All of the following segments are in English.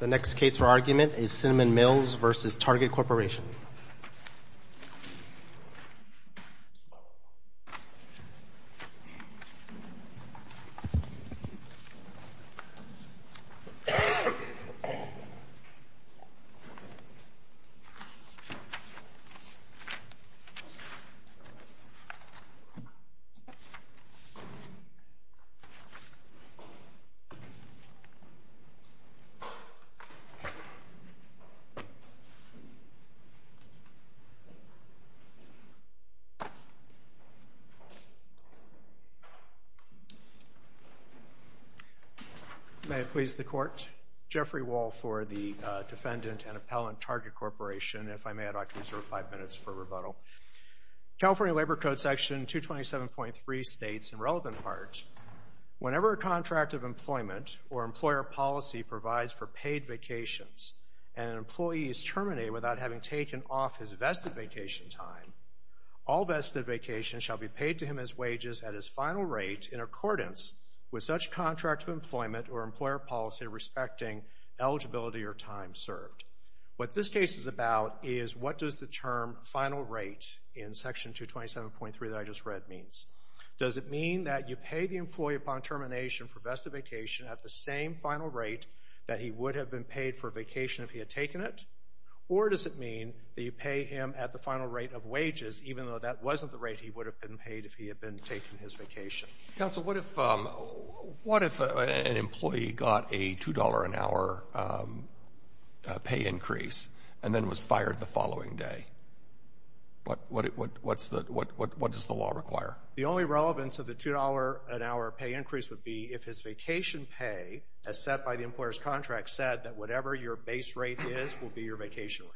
The next case for argument is Cinnamon Mills v. Target Corporation May it please the Court, Jeffrey Wall for the Defendant and Appellant, Target Corporation. If I may, I'd like to reserve five minutes for rebuttal. California Labor Code Section 227.3 states, in relevant part, whenever a contract of employment or employer policy provides for paid vacations and an employee is terminated without having taken off his vested vacation time, all vested vacations shall be paid to him as wages at his final rate in accordance with such contract of employment or employer policy respecting eligibility or time served. What this case is about is what does the term final rate in Section 227.3 that I just read means. Does it mean that you pay the employee upon termination for a vested vacation at the same final rate that he would have been paid for a vacation if he had taken it? Or does it mean that you pay him at the final rate of wages, even though that wasn't the rate he would have been paid if he had been taking his vacation? Counsel, what if an employee got a $2 an hour pay increase and then was fired the following day? What does the law require? The only relevance of the $2 an hour pay increase would be if his vacation pay, as set by the employer's contract, said that whatever your base rate is will be your vacation rate.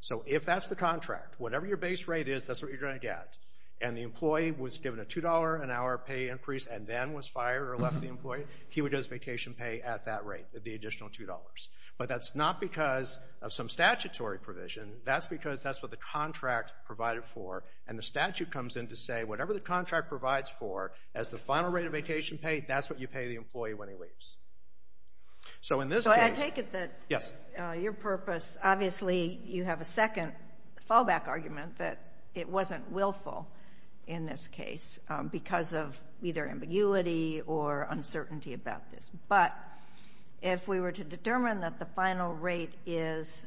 So if that's the contract, whatever your base rate is, that's what you're going to get. And the employee was given a $2 an hour pay increase and then was fired or left the employee, he would get his vacation pay at that rate, the additional $2. But that's not because of some statutory provision. That's because that's what the contract provided for. And the statute comes in to say whatever the contract provides for as the final rate of vacation paid, that's what you pay the employee when he leaves. So in this case — So I take it that — Yes. Your purpose, obviously you have a second fallback argument that it wasn't willful in this case because of either ambiguity or uncertainty about this. But if we were to determine that the final rate is,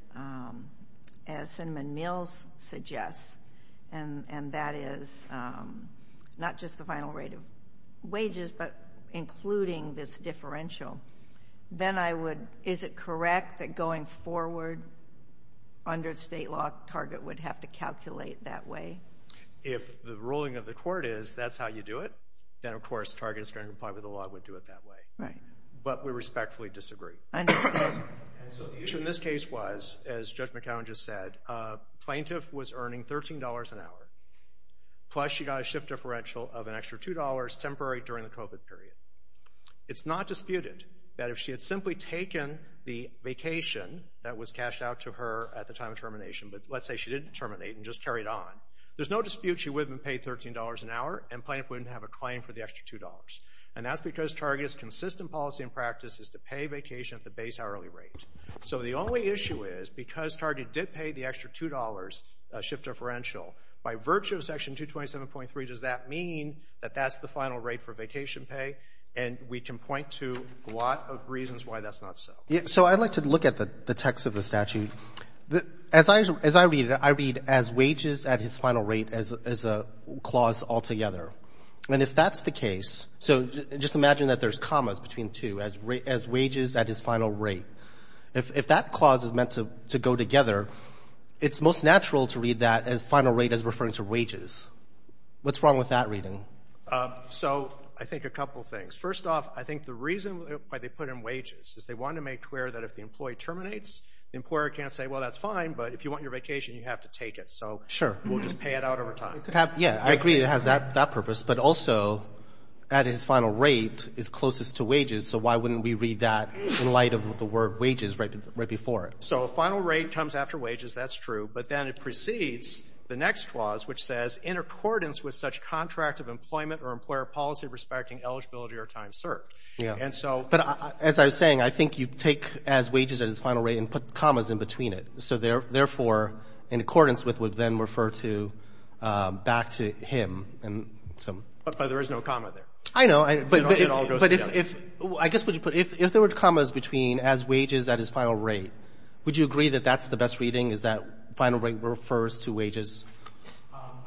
as Cinnamon Mills suggests, and that is not just the final rate of wages but including this differential, then I would — is it correct that going forward under the state law, Target would have to calculate that way? If the ruling of the court is that's how you do it, then of course Target is going to comply with the law and would do it that way. Right. But we respectfully disagree. Understood. And so the issue in this case was, as Judge McAllen just said, a plaintiff was earning $13 an hour, plus she got a shift differential of an extra $2 temporary during the COVID period. It's not disputed that if she had simply taken the vacation that was cashed out to her at the time of termination, but let's say she didn't terminate and just carried on, there's no dispute she would have been paid $13 an hour and plaintiff wouldn't have a claim for the extra $2. And that's because Target's consistent policy and practice is to pay vacation at the base hourly rate. So the only issue is, because Target did pay the extra $2 shift differential, by virtue of Section 227.3, does that mean that that's the final rate for vacation pay? And we can point to a lot of reasons why that's not so. So I'd like to look at the text of the statute. As I read it, I read as wages at his final rate as a clause altogether. And if that's the case, so just imagine that there's commas between two, as wages at his final rate. If that clause is meant to go together, it's most natural to read that as final rate as referring to wages. What's wrong with that reading? So I think a couple things. First off, I think the reason why they put in wages is they wanted to make clear that if the employee terminates, the employer can't say, well, that's fine, but if you want your vacation, you have to take it. So we'll just pay it out over time. Yeah, I agree it has that purpose. But also at his final rate is closest to wages, so why wouldn't we read that in light of the word wages right before it? So final rate comes after wages, that's true. But then it precedes the next clause, which says, in accordance with such contract of employment or employer policy respecting eligibility or time served. And so — But as I was saying, I think you take as wages at his final rate and put commas in between it. So therefore, in accordance with would then refer to back to him and some — But there is no comma there. I know. But if — It all goes together. Would you agree that that's the best reading, is that final rate refers to wages?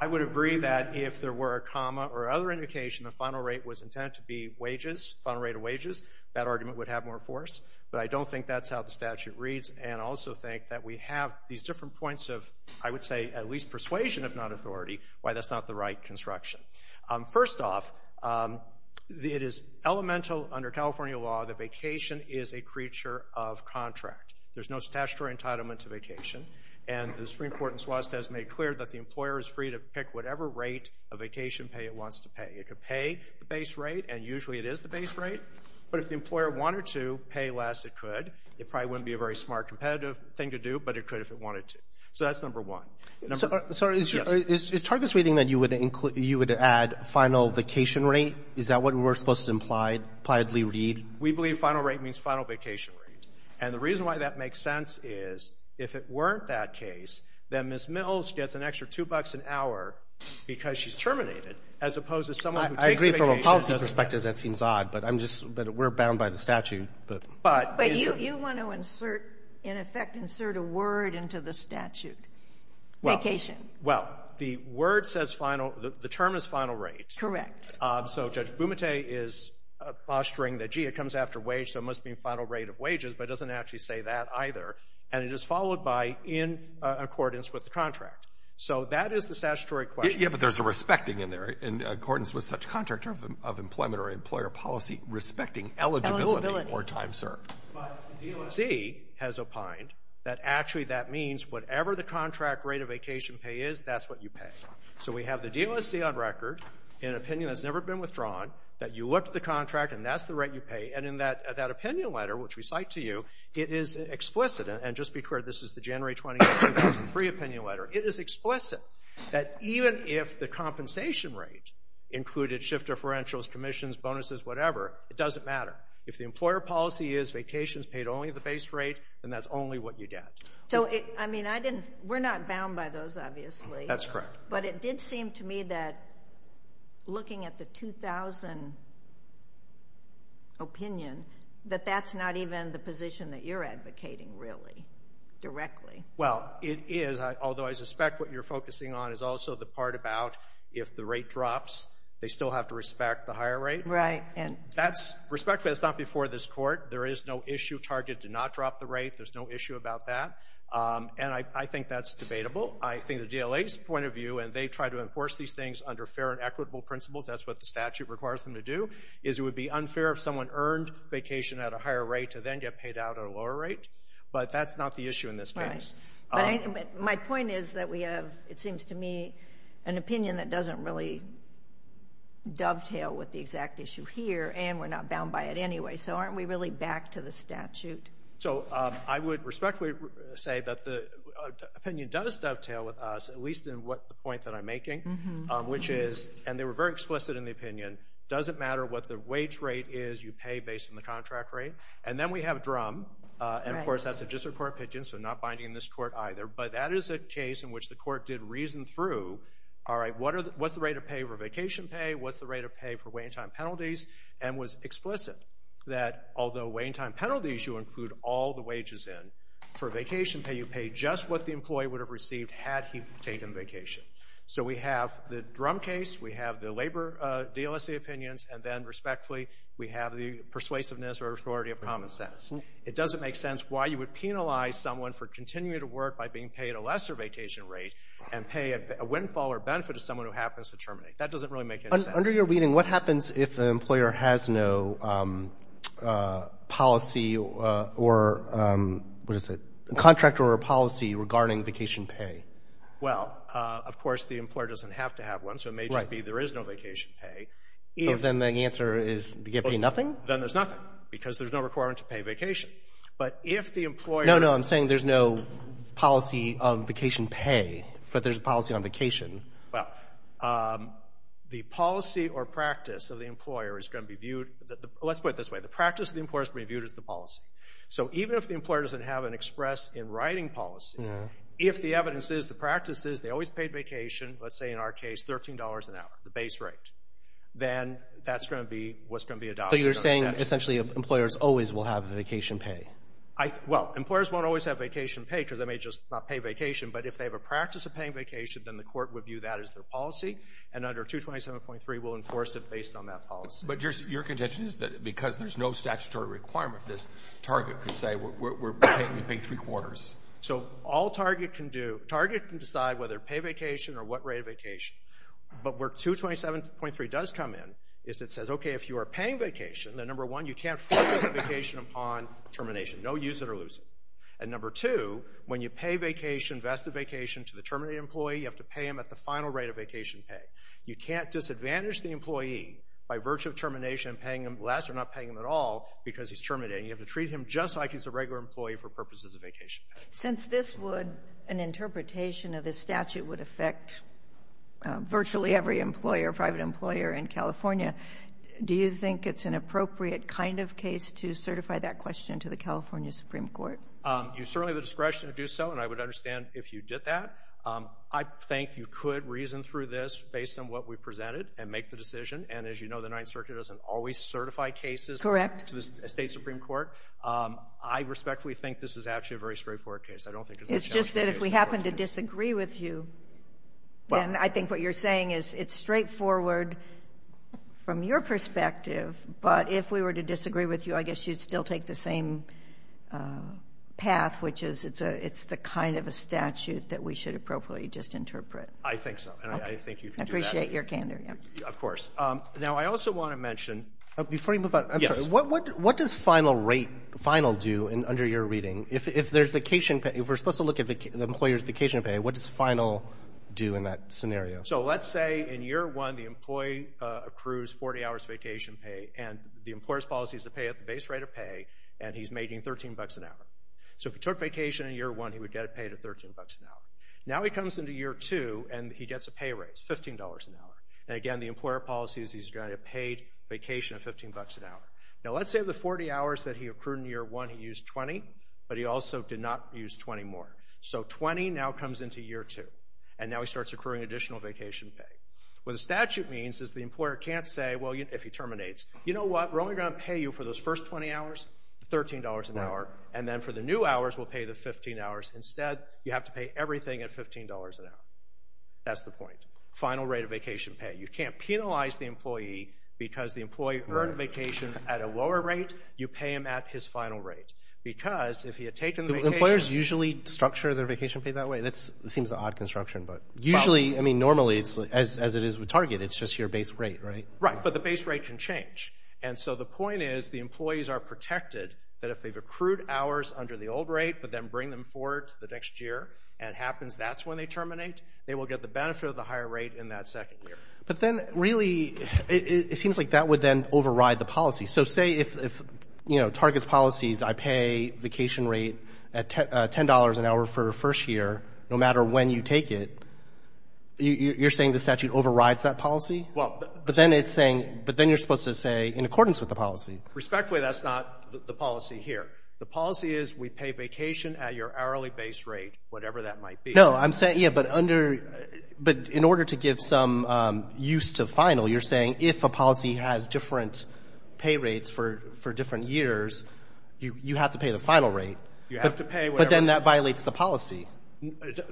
I would agree that if there were a comma or other indication the final rate was intended to be wages, final rate of wages, that argument would have more force. But I don't think that's how the statute reads. And I also think that we have these different points of, I would say, at least persuasion, if not authority, why that's not the right construction. First off, it is elemental under California law that vacation is a creature of contract. There's no statutory entitlement to vacation. And the Supreme Court in Swatesta has made clear that the employer is free to pick whatever rate of vacation pay it wants to pay. It could pay the base rate, and usually it is the base rate. But if the employer wanted to pay less, it could. It probably wouldn't be a very smart competitive thing to do, but it could if it wanted to. So that's number one. Number — Sorry. Yes. Is Target's reading that you would include — you would add final vacation rate? Is that what we're supposed to imply, impliedly read? We believe final rate means final vacation rate. And the reason why that makes sense is if it weren't that case, then Ms. Mills gets an extra 2 bucks an hour because she's terminated, as opposed to someone who takes the vacation. I agree from a policy perspective. That seems odd. But I'm just — but we're bound by the statute. But — But you want to insert, in effect, insert a word into the statute, vacation. Well, the word says final — the term is final rate. Correct. So Judge Bumate is posturing that, gee, it comes after wage, so it must mean final rate of wages, but it doesn't actually say that either. And it is followed by in accordance with the contract. So that is the statutory question. Yeah, but there's a respecting in there, in accordance with such contract of employment or employer policy, respecting eligibility or time served. Eligibility. But the DOSC has opined that actually that means whatever the contract rate of vacation pay is, that's what you pay. So we have the DOSC on record in an opinion that's never been withdrawn, that you looked at the contract, and that's the rate you pay. And in that opinion letter, which we cite to you, it is explicit — and just be clear, this is the January 20, 2003, opinion letter. It is explicit that even if the compensation rate included shift differentials, commissions, bonuses, whatever, it doesn't matter. If the employer policy is vacations paid only at the base rate, then that's only what you get. So, I mean, I didn't — we're not bound by those, obviously. That's correct. But it did seem to me that looking at the 2000 opinion, that that's not even the position that you're advocating, really, directly. Well, it is. Although I suspect what you're focusing on is also the part about if the rate drops, they still have to respect the higher rate. Right. And that's — respectfully, that's not before this Court. There is no issue target to not drop the rate. There's no issue about that. And I think that's debatable. I think the DLA's point of view, and they try to enforce these things under fair and equitable principles, that's what the statute requires them to do, is it would be unfair if someone earned vacation at a higher rate to then get paid out at a lower rate. But that's not the issue in this case. Right. But my point is that we have, it seems to me, an opinion that doesn't really dovetail with the exact issue here, and we're not bound by it anyway. So aren't we really back to the statute? So I would respectfully say that the opinion does dovetail with us, at least in the point that I'm making, which is, and they were very explicit in the opinion, doesn't matter what the wage rate is, you pay based on the contract rate. And then we have DRUM, and, of course, that's a district court opinion, so not binding this Court either. But that is a case in which the Court did reason through, all right, what's the rate of pay for vacation pay, what's the rate of pay for waiting time penalties, and was explicit that although waiting time penalties you include all the wages in, for vacation pay you pay just what the employee would have received had he taken vacation. So we have the DRUM case, we have the labor DLSA opinions, and then respectfully we have the persuasiveness or authority of common sense. It doesn't make sense why you would penalize someone for continuing to work by being paid a lesser vacation rate and pay a windfall or benefit to someone That doesn't really make any sense. Under your reading, what happens if the employer has no policy or, what is it, contract or policy regarding vacation pay? Well, of course, the employer doesn't have to have one. Right. So it may just be there is no vacation pay. Then the answer is you get paid nothing? Then there's nothing, because there's no requirement to pay vacation. But if the employer No, no. I'm saying there's no policy of vacation pay, but there's a policy on vacation. Well, the policy or practice of the employer is going to be viewed Let's put it this way. The practice of the employer is going to be viewed as the policy. So even if the employer doesn't have an express in writing policy, if the evidence is the practice is they always paid vacation, let's say in our case $13 an hour, the base rate, then that's going to be what's going to be adopted. So you're saying essentially employers always will have vacation pay? Well, employers won't always have vacation pay because they may just not pay vacation, but if they have a practice of paying vacation, then the court would view that as their policy, and under 227.3 will enforce it based on that policy. But your contention is that because there's no statutory requirement, this target could say we're paying three quarters. So all target can do, target can decide whether to pay vacation or what rate of vacation. But where 227.3 does come in is it says, okay, if you are paying vacation, then, number one, you can't force vacation upon termination, no use it or lose it. And, number two, when you pay vacation, vested vacation to the terminated employee, you have to pay him at the final rate of vacation pay. You can't disadvantage the employee by virtue of termination and paying him less or not paying him at all because he's terminating. You have to treat him just like he's a regular employee for purposes of vacation pay. Since this would, an interpretation of this statute would affect virtually every employer, private employer in California, do you think it's an appropriate kind of case to certify that question to the California Supreme Court? You certainly have the discretion to do so, and I would understand if you did that. I think you could reason through this based on what we presented and make the decision. And, as you know, the Ninth Circuit doesn't always certify cases to the State Supreme Court. I respectfully think this is actually a very straightforward case. I don't think it's a challenging case. It's just that if we happen to disagree with you, then I think what you're saying is it's straightforward from your perspective. But if we were to disagree with you, I guess you'd still take the same path, which is it's the kind of a statute that we should appropriately just interpret. I think so. And I think you can do that. I appreciate your candor. Of course. Now, I also want to mention. Before you move on, I'm sorry. Yes. What does final rate, final do under your reading? If there's vacation pay, if we're supposed to look at the employer's vacation pay, what does final do in that scenario? So let's say in year one the employee accrues 40 hours vacation pay, and the employer's policy is to pay at the base rate of pay, and he's making $13 an hour. So if he took vacation in year one, he would get it paid at $13 an hour. Now he comes into year two, and he gets a pay raise, $15 an hour. And, again, the employer policy is he's going to get paid vacation of $15 an hour. Now let's say the 40 hours that he accrued in year one he used 20, but he also did not use 20 more. So 20 now comes into year two. And now he starts accruing additional vacation pay. What the statute means is the employer can't say, well, if he terminates, you know what, we're only going to pay you for those first 20 hours $13 an hour, and then for the new hours we'll pay the $15. Instead, you have to pay everything at $15 an hour. That's the point. Final rate of vacation pay. You can't penalize the employee because the employee earned vacation at a lower rate. You pay him at his final rate because if he had taken vacation. Do employers usually structure their vacation pay that way? That seems an odd construction, but usually, I mean, normally as it is with Target, it's just your base rate, right? Right, but the base rate can change. And so the point is the employees are protected that if they've accrued hours under the old rate but then bring them forward to the next year and it happens that's when they terminate, they will get the benefit of the higher rate in that second year. But then really it seems like that would then override the policy. So say if, you know, Target's policy is I pay vacation rate at $10 an hour for first year, no matter when you take it, you're saying the statute overrides that policy? Well, but then it's saying, but then you're supposed to say in accordance with the policy. Respectfully, that's not the policy here. The policy is we pay vacation at your hourly base rate, whatever that might be. No, I'm saying, yeah, but under — but in order to give some use to final, you're saying if a policy has different pay rates for different years, you have to pay the final rate. You have to pay whatever. But then that violates the policy.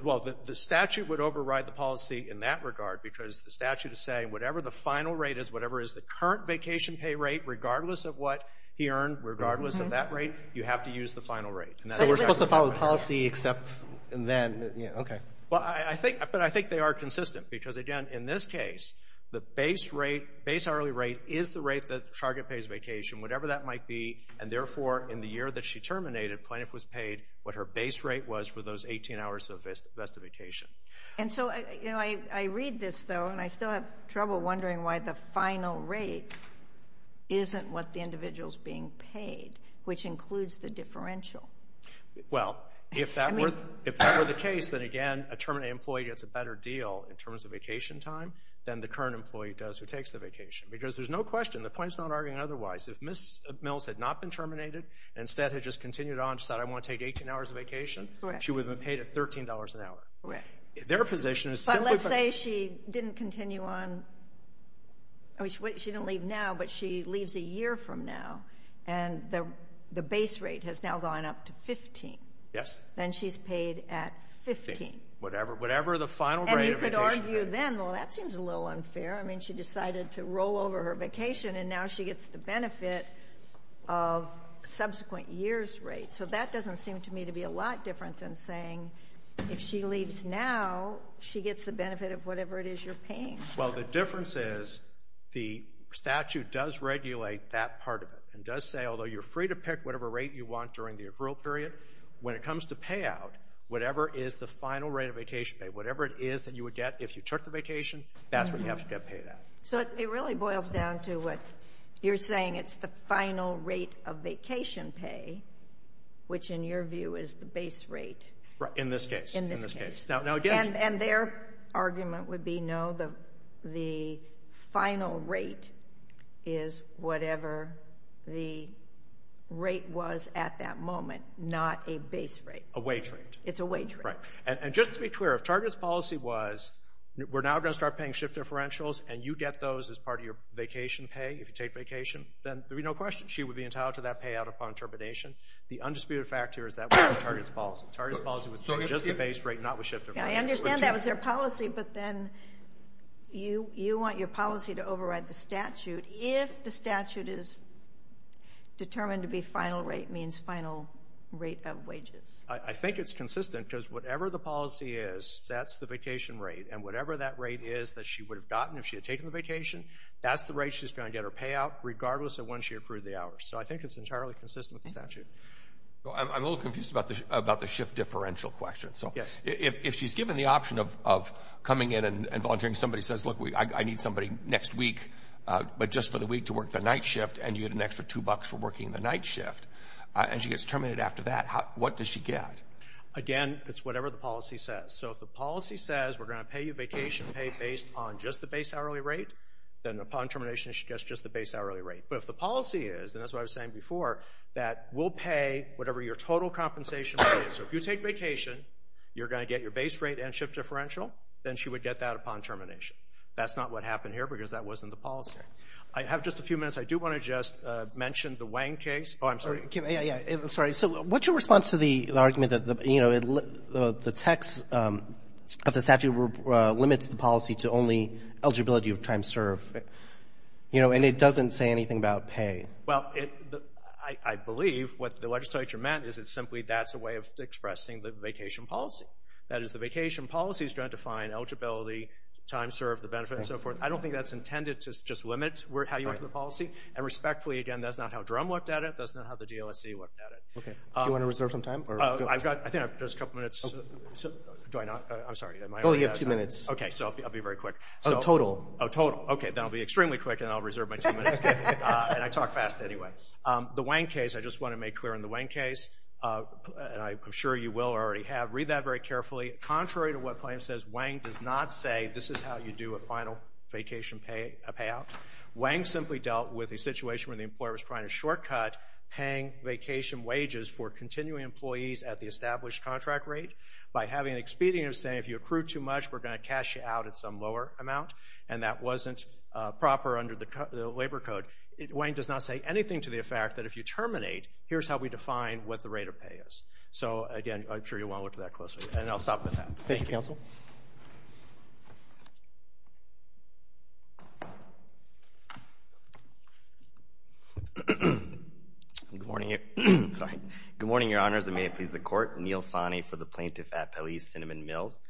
Well, the statute would override the policy in that regard because the statute is saying whatever the final rate is, whatever is the current vacation pay rate regardless of what he earned, regardless of that rate, you have to use the final rate. So we're supposed to follow the policy except then, okay. But I think they are consistent because, again, in this case, the base rate, base hourly rate is the rate that Chargott pays vacation, whatever that might be, and therefore in the year that she terminated, Plaintiff was paid what her base rate was for those 18 hours of vested vacation. And so, you know, I read this, though, and I still have trouble wondering why the final rate isn't what the individual is being paid, which includes the differential. Well, if that were the case, then, again, a terminated employee gets a better deal in terms of vacation time than the current employee does who takes the vacation because there's no question, the point is not arguing otherwise. If Ms. Mills had not been terminated and instead had just continued on and said, I want to take 18 hours of vacation, she would have been paid $13 an hour. Correct. Their position is simply. But let's say she didn't continue on. I mean, she didn't leave now, but she leaves a year from now, and the base rate has now gone up to 15. Yes. Then she's paid at 15. Whatever the final rate of vacation rate is. And you could argue then, well, that seems a little unfair. I mean, she decided to roll over her vacation, and now she gets the benefit of subsequent years' rate. So that doesn't seem to me to be a lot different than saying if she leaves now, she gets the benefit of whatever it is you're paying. Well, the difference is the statute does regulate that part of it and does say although you're free to pick whatever rate you want during the accrual period, when it comes to payout, whatever is the final rate of vacation pay, whatever it is that you would get if you took the vacation, that's what you have to get paid at. So it really boils down to what you're saying. It's the final rate of vacation pay, which in your view is the base rate. In this case. In this case. And their argument would be no, the final rate is whatever the rate was at that moment, not a base rate. A wage rate. It's a wage rate. Right. And just to be clear, if Target's policy was we're now going to start paying shift differentials and you get those as part of your vacation pay if you take vacation, then there would be no question she would be entitled to that payout upon termination. The undisputed fact here is that wasn't Target's policy. Target's policy was just the base rate, not with shift differential. I understand that was their policy, but then you want your policy to override the statute. If the statute is determined to be final rate means final rate of wages. I think it's consistent because whatever the policy is, that's the vacation rate, and whatever that rate is that she would have gotten if she had taken the vacation, that's the rate she's going to get her payout regardless of when she accrued the hours. So I think it's entirely consistent with the statute. I'm a little confused about the shift differential question. Yes. If she's given the option of coming in and volunteering, somebody says, look, I need somebody next week, but just for the week to work the night shift, and you get an extra $2 for working the night shift, and she gets terminated after that, what does she get? Again, it's whatever the policy says. So if the policy says we're going to pay you vacation pay based on just the base hourly rate, then upon termination she gets just the base hourly rate. But if the policy is, and that's what I was saying before, that we'll pay whatever your total compensation rate is. So if you take vacation, you're going to get your base rate and shift differential, then she would get that upon termination. That's not what happened here because that wasn't the policy. I have just a few minutes. I do want to just mention the Wang case. Oh, I'm sorry. I'm sorry. So what's your response to the argument that, you know, the text of the statute limits the policy to only eligibility of time served? You know, and it doesn't say anything about pay. Well, I believe what the legislature meant is it's simply that's a way of expressing the vacation policy. That is, the vacation policy is going to define eligibility, time served, the benefits, and so forth. I don't think that's intended to just limit how you enter the policy. And respectfully, again, that's not how DRUM looked at it. That's not how the DLSC looked at it. Okay. Do you want to reserve some time? I think I have just a couple minutes. Do I not? I'm sorry. Oh, you have two minutes. Okay, so I'll be very quick. Oh, total. Oh, total. Okay, then I'll be extremely quick and I'll reserve my two minutes. And I talk fast anyway. The Wang case, I just want to make clear in the Wang case, and I'm sure you will or already have, read that very carefully. Contrary to what the claim says, Wang does not say this is how you do a final vacation payout. Wang simply dealt with a situation where the employer was trying to shortcut paying vacation wages for continuing employees at the established contract rate by having an expedient of saying, if you accrue too much, we're going to cash you out at some lower amount. And that wasn't proper under the labor code. Wang does not say anything to the effect that if you terminate, here's how we define what the rate of pay is. So, again, I'm sure you want to look at that closely. And I'll stop with that. Thank you, counsel. Good morning, Your Honors, and may it please the Court. Neil Sani for the Plaintiff at Police, Cinnamon Mills.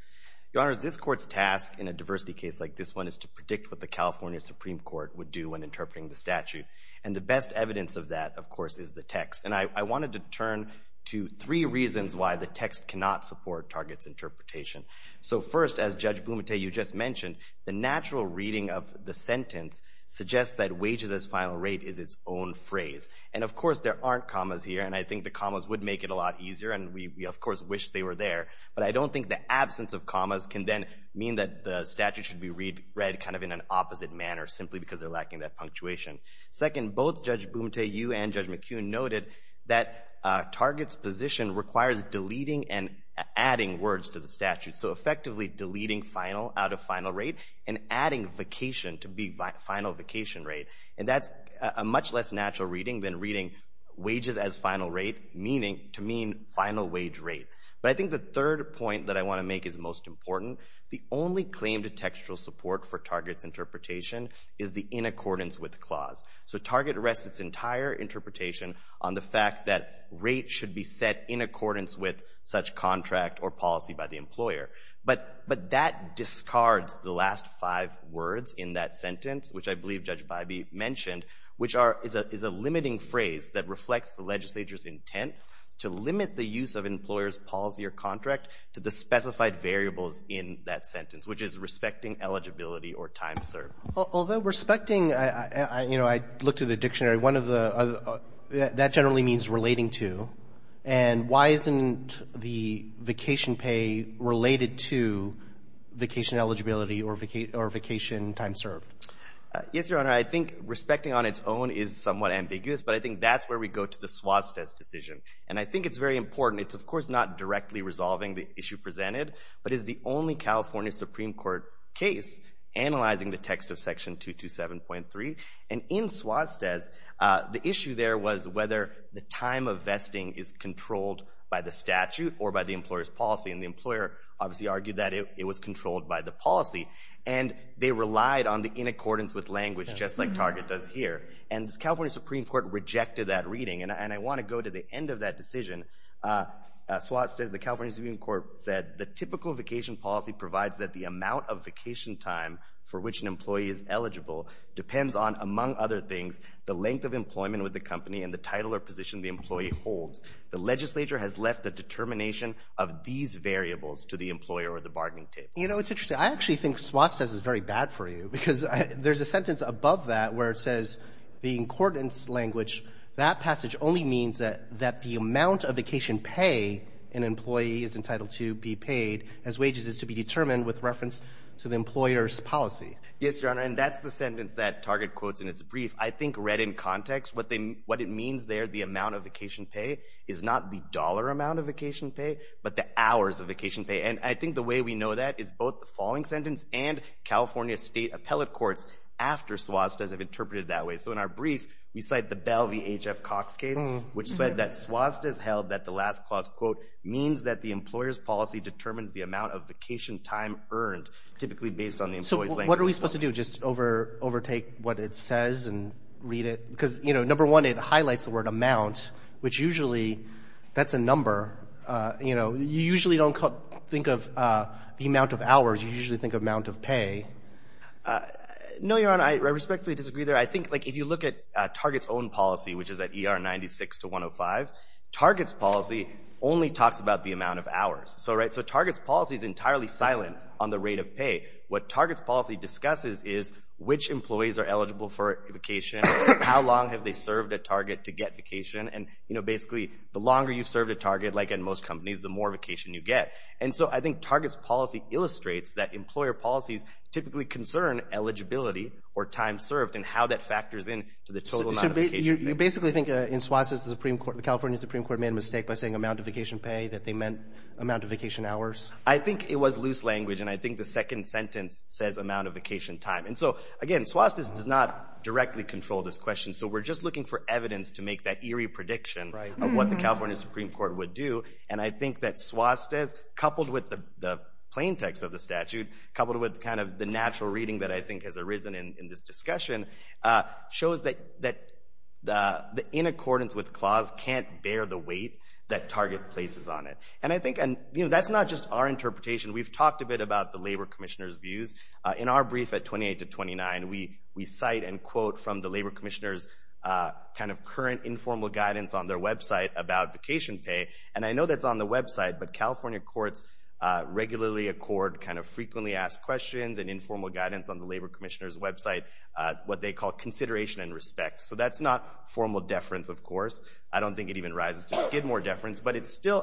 Your Honors, this Court's task in a diversity case like this one is to predict what the California Supreme Court would do when interpreting the statute. And the best evidence of that, of course, is the text. And I wanted to turn to three reasons why the text cannot support Target's interpretation. So, first, as Judge Blumenthal, you just mentioned, the natural reading of the sentence suggests that wages as final rate is its own phrase. And, of course, there aren't commas here. And I think the commas would make it a lot easier, and we, of course, wish they were there. But I don't think the absence of commas can then mean that the statute should be read kind of in an opposite manner simply because they're lacking that punctuation. Second, both Judge Blumenthal, you and Judge McKeown noted that Target's position requires deleting and adding words to the statute. So, effectively, deleting final out of final rate and adding vacation to be final vacation rate. And that's a much less natural reading than reading wages as final rate meaning to mean final wage rate. But I think the third point that I want to make is most important. The only claim to textual support for Target's interpretation is the in accordance with clause. So, Target rests its entire interpretation on the fact that rate should be set in accordance with such contract or policy by the employer. But that discards the last five words in that sentence, which I believe Judge Bybee mentioned, which is a limiting phrase that reflects the legislature's intent to limit the use of employer's policy or contract to the specified variables in that sentence, which is respecting eligibility or time served. Although respecting, you know, I looked at the dictionary. That generally means relating to. And why isn't the vacation pay related to vacation eligibility or vacation time served? Yes, Your Honor. I think respecting on its own is somewhat ambiguous, but I think that's where we go to the Suaztez decision. And I think it's very important. It's, of course, not directly resolving the issue presented, but is the only California Supreme Court case analyzing the text of Section 227.3. And in Suaztez, the issue there was whether the time of vesting is controlled by the statute or by the employer's policy. And the employer obviously argued that it was controlled by the policy. And they relied on the in accordance with language, just like Target does here. And the California Supreme Court rejected that reading. And I want to go to the end of that decision. Suaztez, the California Supreme Court, said the typical vacation policy provides that the amount of vacation time for which an employee is eligible depends on, among other things, the length of employment with the company and the title or position the employee holds. The legislature has left the determination of these variables to the employer or the bargaining table. You know, it's interesting. I actually think Suaztez is very bad for you because there's a sentence above that where it says the in accordance language, that passage only means that the amount of vacation pay an employee is entitled to be paid as wages is to be determined with reference to the employer's policy. Yes, Your Honor, and that's the sentence that Target quotes in its brief. I think read in context, what it means there, the amount of vacation pay, is not the dollar amount of vacation pay, but the hours of vacation pay. And I think the way we know that is both the following sentence and California state appellate courts after Suaztez have interpreted it that way. So in our brief, we cite the Bell v. H.F. Cox case, which said that Suaztez held that the last clause, quote, means that the employer's policy determines the amount of vacation time earned, typically based on the employee's language. So what are we supposed to do, just overtake what it says and read it? Because, you know, number one, it highlights the word amount, which usually that's a number. You know, you usually don't think of the amount of hours. You usually think of amount of pay. No, Your Honor, I respectfully disagree there. I think, like, if you look at Target's own policy, which is at ER 96 to 105, Target's policy only talks about the amount of hours. So, right, so Target's policy is entirely silent on the rate of pay. What Target's policy discusses is which employees are eligible for vacation, how long have they served at Target to get vacation, and, you know, basically the longer you've served at Target, like in most companies, the more vacation you get. And so I think Target's policy illustrates that employer policies typically concern eligibility or time served and how that factors in to the total amount of vacation paid. So you basically think in Suoztes, the California Supreme Court made a mistake by saying amount of vacation pay, that they meant amount of vacation hours? I think it was loose language, and I think the second sentence says amount of vacation time. And so, again, Suoztes does not directly control this question, so we're just looking for evidence to make that eerie prediction of what the California Supreme Court would do. And I think that Suoztes, coupled with the plain text of the statute, coupled with kind of the natural reading that I think has arisen in this discussion, shows that the in accordance with clause can't bear the weight that Target places on it. And I think, you know, that's not just our interpretation. We've talked a bit about the Labor Commissioner's views. In our brief at 28 to 29, we cite and quote from the Labor Commissioner's kind of current informal guidance on their website about vacation pay. And I know that's on the website, but California courts regularly accord kind of frequently asked questions and informal guidance on the Labor Commissioner's website, what they call consideration and respect. So that's not formal deference, of course. I don't think it even rises to skid more deference, but it's still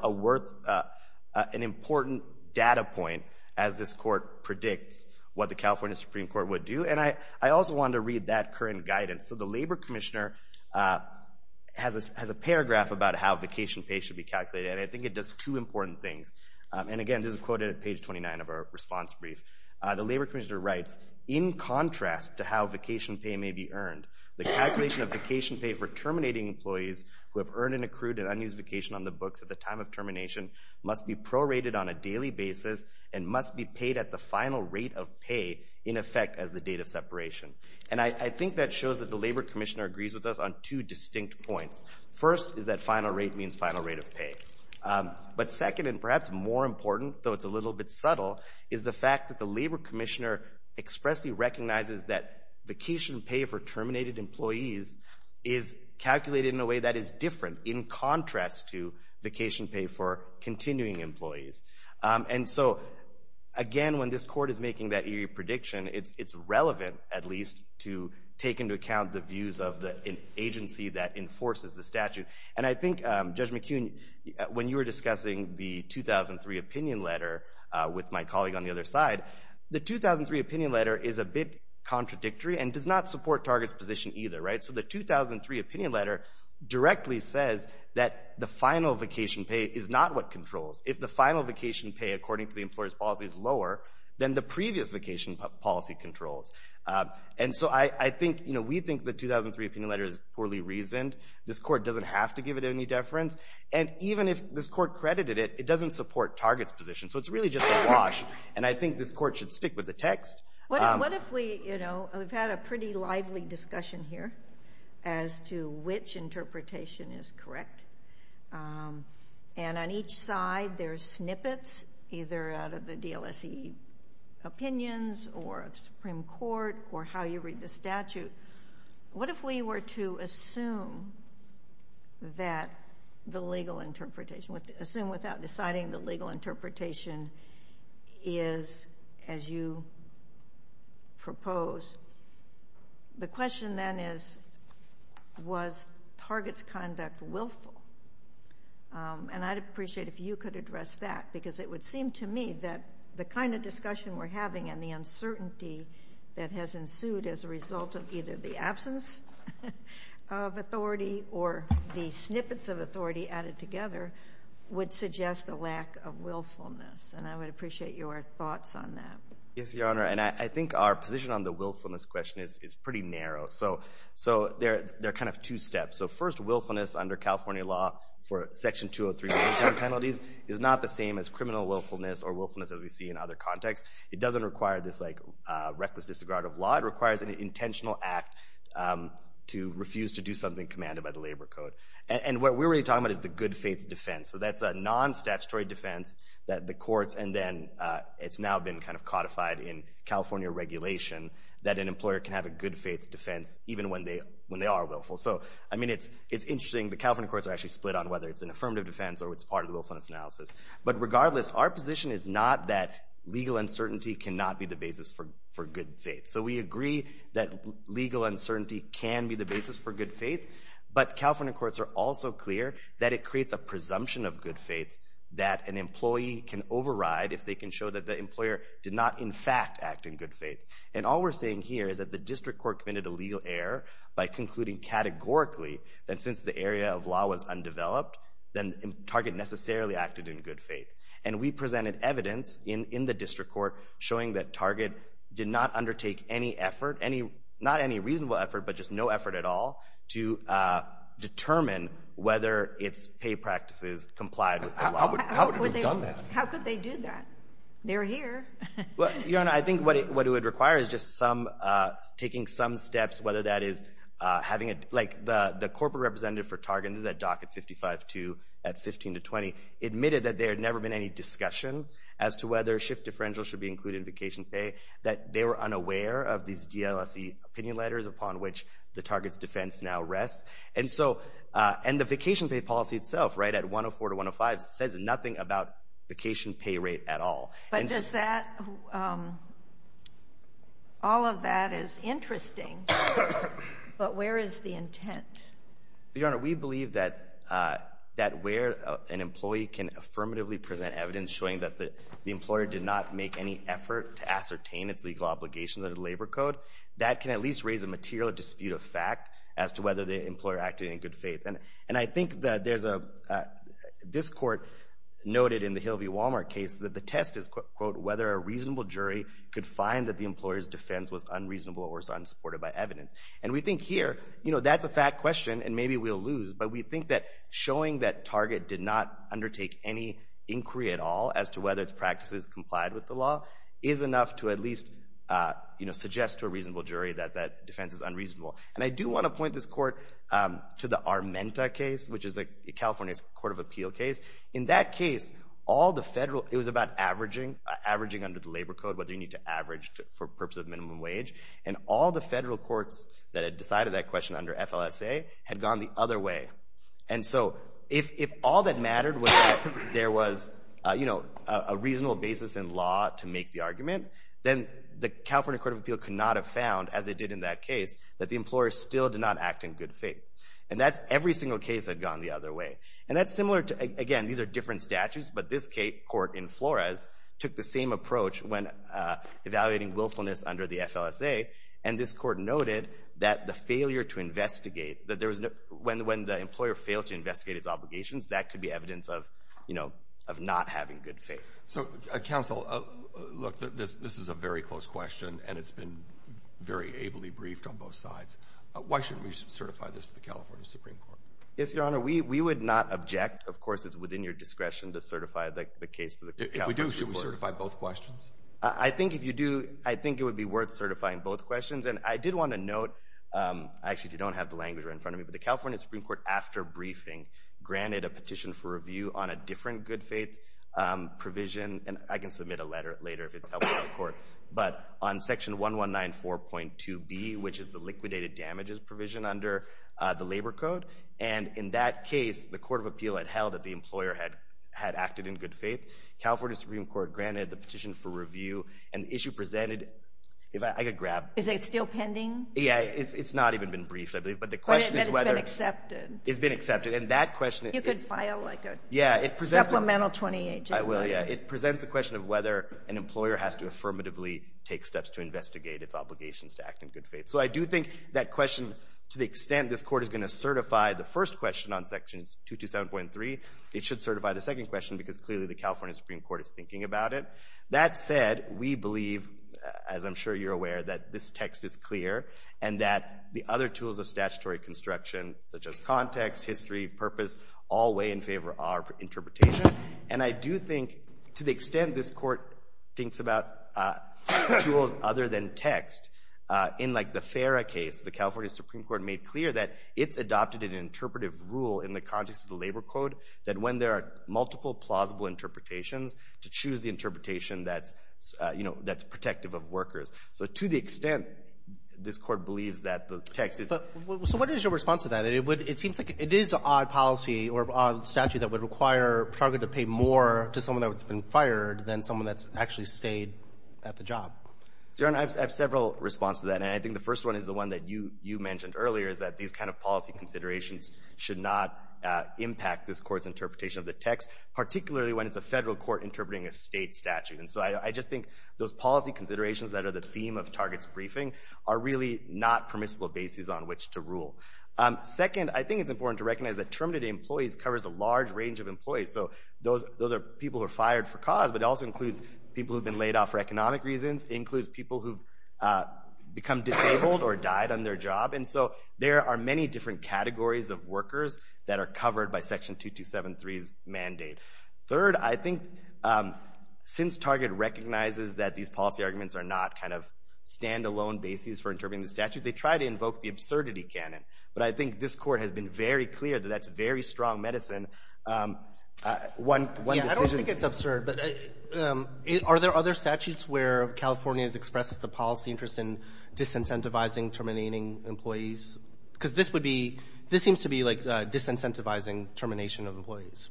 an important data point as this court predicts what the California Supreme Court would do. And I also wanted to read that current guidance. So the Labor Commissioner has a paragraph about how vacation pay should be calculated, and I think it does two important things. And again, this is quoted at page 29 of our response brief. The Labor Commissioner writes, in contrast to how vacation pay may be earned, the calculation of vacation pay for terminating employees who have earned and accrued an unused vacation on the books at the time of termination must be prorated on a daily basis and must be paid at the final rate of pay in effect as the date of separation. And I think that shows that the Labor Commissioner agrees with us on two distinct points. First is that final rate means final rate of pay. But second and perhaps more important, though it's a little bit subtle, is the fact that the Labor Commissioner expressly recognizes that vacation pay for terminated employees is calculated in a way that is different in contrast to vacation pay for continuing employees. And so again, when this court is making that eerie prediction, it's relevant at least to take into account the views of the agency that enforces the statute. And I think, Judge McKeown, when you were discussing the 2003 opinion letter with my colleague on the other side, the 2003 opinion letter is a bit contradictory and does not support Target's position either. So the 2003 opinion letter directly says that the final vacation pay is not what controls. If the final vacation pay according to the employer's policy is lower than the previous vacation policy controls. And so I think, you know, we think the 2003 opinion letter is poorly reasoned. This court doesn't have to give it any deference. And even if this court credited it, it doesn't support Target's position. So it's really just a wash, and I think this court should stick with the text. What if we, you know, we've had a pretty lively discussion here as to which interpretation is correct. And on each side there's snippets either out of the DLSE opinions or of Supreme Court or how you read the statute. What if we were to assume that the legal interpretation, assume without deciding the legal interpretation is as you propose. The question then is, was Target's conduct willful? And I'd appreciate if you could address that because it would seem to me that the kind of discussion we're having and the uncertainty that has ensued as a result of either the absence of authority or the snippets of authority added together would suggest a lack of willfulness. And I would appreciate your thoughts on that. Yes, Your Honor. And I think our position on the willfulness question is pretty narrow. So there are kind of two steps. So first, willfulness under California law for Section 203 penalties is not the same as criminal willfulness or willfulness as we see in other contexts. It doesn't require this like reckless disregard of law. It requires an intentional act to refuse to do something commanded by the labor code. And what we're really talking about is the good faith defense. So that's a non-statutory defense that the courts and then it's now been kind of codified in California regulation that an employer can have a good faith defense even when they are willful. So, I mean, it's interesting. The California courts are actually split on whether it's an affirmative defense or it's part of the willfulness analysis. But regardless, our position is not that legal uncertainty cannot be the basis for good faith. So we agree that legal uncertainty can be the basis for good faith. But California courts are also clear that it creates a presumption of good faith that an employee can override if they can show that the employer did not in fact act in good faith. And all we're saying here is that the district court committed a legal error by concluding categorically that since the area of law was undeveloped, then the target necessarily acted in good faith. And we presented evidence in the district court showing that target did not undertake any effort, not any reasonable effort, but just no effort at all to determine whether its pay practices complied with the law. How would they have done that? How could they do that? They're here. Well, Your Honor, I think what it would require is just taking some steps, whether that is having a, like the corporate representative for target, this is at Dock at 55-2 at 15-20, admitted that there had never been any discussion as to whether shift differential should be included in vacation pay, that they were unaware of these DLSE opinion letters upon which the target's defense now rests. And so, and the vacation pay policy itself, right, at 104-105, says nothing about vacation pay rate at all. But does that, all of that is interesting, but where is the intent? Your Honor, we believe that where an employee can affirmatively present evidence showing that the employer did not make any effort to ascertain its legal obligations under the Labor Code, that can at least raise a material dispute of fact as to whether the employer acted in good faith. And I think that there's a, this court noted in the Hill v. Walmart case that the test is, quote, whether a reasonable jury could find that the employer's defense was unreasonable or was unsupported by evidence. And we think here, you know, that's a fact question and maybe we'll lose, but we think that showing that target did not undertake any inquiry at all as to whether its practices complied with the law is enough to at least, you know, suggest to a reasonable jury that that defense is unreasonable. And I do want to point this court to the Armenta case, which is a California Court of Appeal case. In that case, all the federal, it was about averaging, averaging under the Labor Code, whether you need to average for purpose of minimum wage, and all the federal courts that had decided that question under FLSA had gone the other way. And so if all that mattered was that there was, you know, a reasonable basis in law to make the argument, then the California Court of Appeal could not have found, as they did in that case, that the employer still did not act in good faith. And that's every single case that had gone the other way. And that's similar to, again, these are different statutes, but this court in Flores took the same approach when evaluating willfulness under the FLSA, and this court noted that the failure to investigate, that there was no, when the employer failed to investigate its obligations, that could be evidence of, you know, of not having good faith. So, counsel, look, this is a very close question, and it's been very ably briefed on both sides. Why shouldn't we certify this to the California Supreme Court? Yes, Your Honor, we would not object. Of course, it's within your discretion to certify the case to the California Supreme Court. If we do, should we certify both questions? I think if you do, I think it would be worth certifying both questions. And I did want to note, actually, if you don't have the language right in front of me, but the California Supreme Court, after briefing, granted a petition for review on a different good faith provision, and I can submit a letter later if it's helpful to the court, but on Section 1194.2b, which is the liquidated damages provision under the Labor Code. And in that case, the court of appeal had held that the employer had acted in good faith. California Supreme Court granted the petition for review, and the issue presented, if I could grab. Is it still pending? Yeah. It's not even been briefed, I believe, but the question is whether. But it's been accepted. It's been accepted. And that question. You could file, like, a supplemental 28-J. I will, yeah. It presents the question of whether an employer has to affirmatively take steps to investigate its obligations to act in good faith. So I do think that question, to the extent this court is going to certify the first question on Section 227.3, it should certify the second question, because clearly the California Supreme Court is thinking about it. That said, we believe, as I'm sure you're aware, that this text is clear and that the other tools of statutory construction, such as context, history, purpose, all weigh in favor of our interpretation. And I do think, to the extent this court thinks about tools other than text, in, like, the FARA case, the California Supreme Court made clear that it's adopted an interpretive rule in the context of the labor code that when there are multiple plausible interpretations, to choose the interpretation that's, you know, that's protective of workers. So to the extent this court believes that the text is. So what is your response to that? It seems like it is an odd policy or odd statute that would require Target to pay more to someone that's been fired than someone that's actually stayed at the job. I have several responses to that. And I think the first one is the one that you mentioned earlier, is that these kind of policy considerations should not impact this court's interpretation of the text, particularly when it's a federal court interpreting a state statute. And so I just think those policy considerations that are the theme of Target's briefing are really not permissible bases on which to rule. Second, I think it's important to recognize that terminated employees covers a large range of employees. So those are people who are fired for cause, but it also includes people who have been laid off for economic reasons. It includes people who've become disabled or died on their job. And so there are many different categories of workers that are covered by Section 2273's mandate. Third, I think since Target recognizes that these policy arguments are not kind of stand-alone bases for interpreting the statute, they try to invoke the absurdity canon. But I think this Court has been very clear that that's very strong medicine. One decision — I don't think it's absurd, but are there other statutes where California has expressed the policy interest in disincentivizing terminating employees? Because this would be — this seems to be like disincentivizing termination of employees,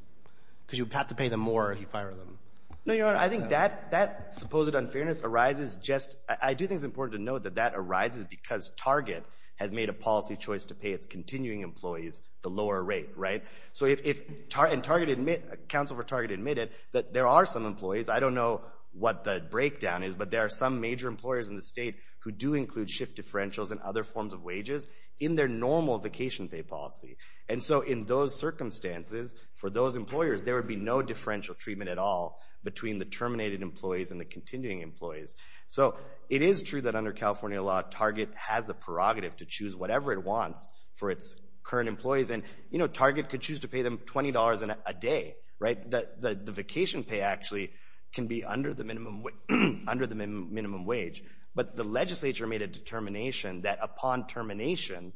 because you have to pay them more if you fire them. No, Your Honor. I think that supposed unfairness arises just — I do think it's important to note that that arises because Target has made a policy choice to pay its continuing employees the lower rate, right? So if — and Target — Counsel for Target admitted that there are some employees. I don't know what the breakdown is, but there are some major employers in the state who do include shift differentials and other forms of wages in their normal vacation pay policy. And so in those circumstances, for those employers, there would be no differential treatment at all between the terminated employees and the continuing employees. So it is true that under California law, Target has the prerogative to choose whatever it wants for its current employees. And, you know, Target could choose to pay them $20 a day, right? The vacation pay actually can be under the minimum wage. But the legislature made a determination that upon termination,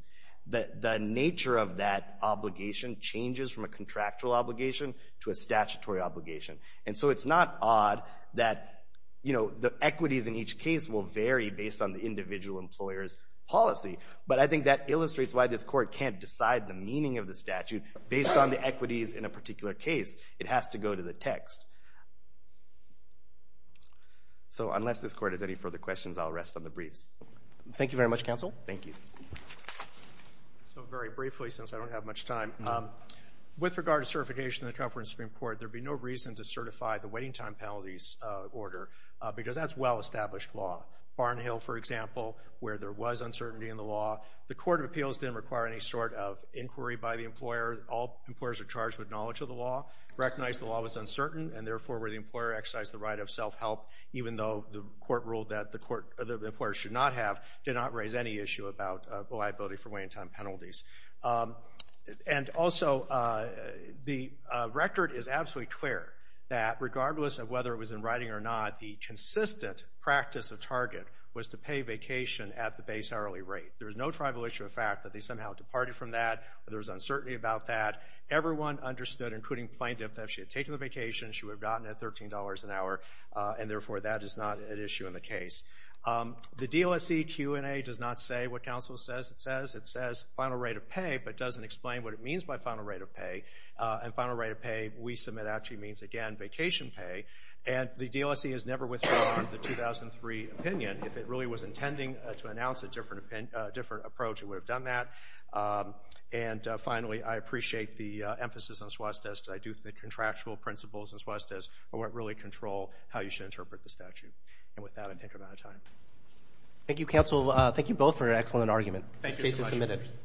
the nature of that obligation changes from a contractual obligation to a statutory obligation. And so it's not odd that, you know, the equities in each case will vary based on the individual employer's policy. But I think that illustrates why this court can't decide the meaning of the statute based on the equities in a particular case. It has to go to the text. So unless this court has any further questions, I'll rest on the briefs. Thank you very much, Counsel. Thank you. So very briefly, since I don't have much time, with regard to certification in the California Supreme Court, there'd be no reason to certify the waiting time penalties order because that's well-established law. Barnhill, for example, where there was uncertainty in the law, the Court of Appeals didn't require any sort of inquiry by the employer. All employers are charged with knowledge of the law, recognize the law was uncertain, and therefore where the employer exercised the right of self-help, even though the court ruled that the employer should not have, did not raise any issue about liability for waiting time penalties. And also, the record is absolutely clear that, regardless of whether it was in writing or not, the consistent practice of Target was to pay vacation at the base hourly rate. There was no tribal issue of fact that they somehow departed from that. There was uncertainty about that. Everyone understood, including plaintiff, that if she had taken the vacation, she would have gotten it at $13 an hour, and therefore that is not an issue in the case. It says final rate of pay, but doesn't explain what it means by final rate of pay. And final rate of pay, we submit actually means, again, vacation pay. And the DLSE has never withdrawn the 2003 opinion. If it really was intending to announce a different approach, it would have done that. And finally, I appreciate the emphasis on suestes. I do think contractual principles and suestes really control how you should interpret the statute. And with that, I think I'm out of time. Thank you, counsel. Thank you both for an excellent argument. This case is submitted.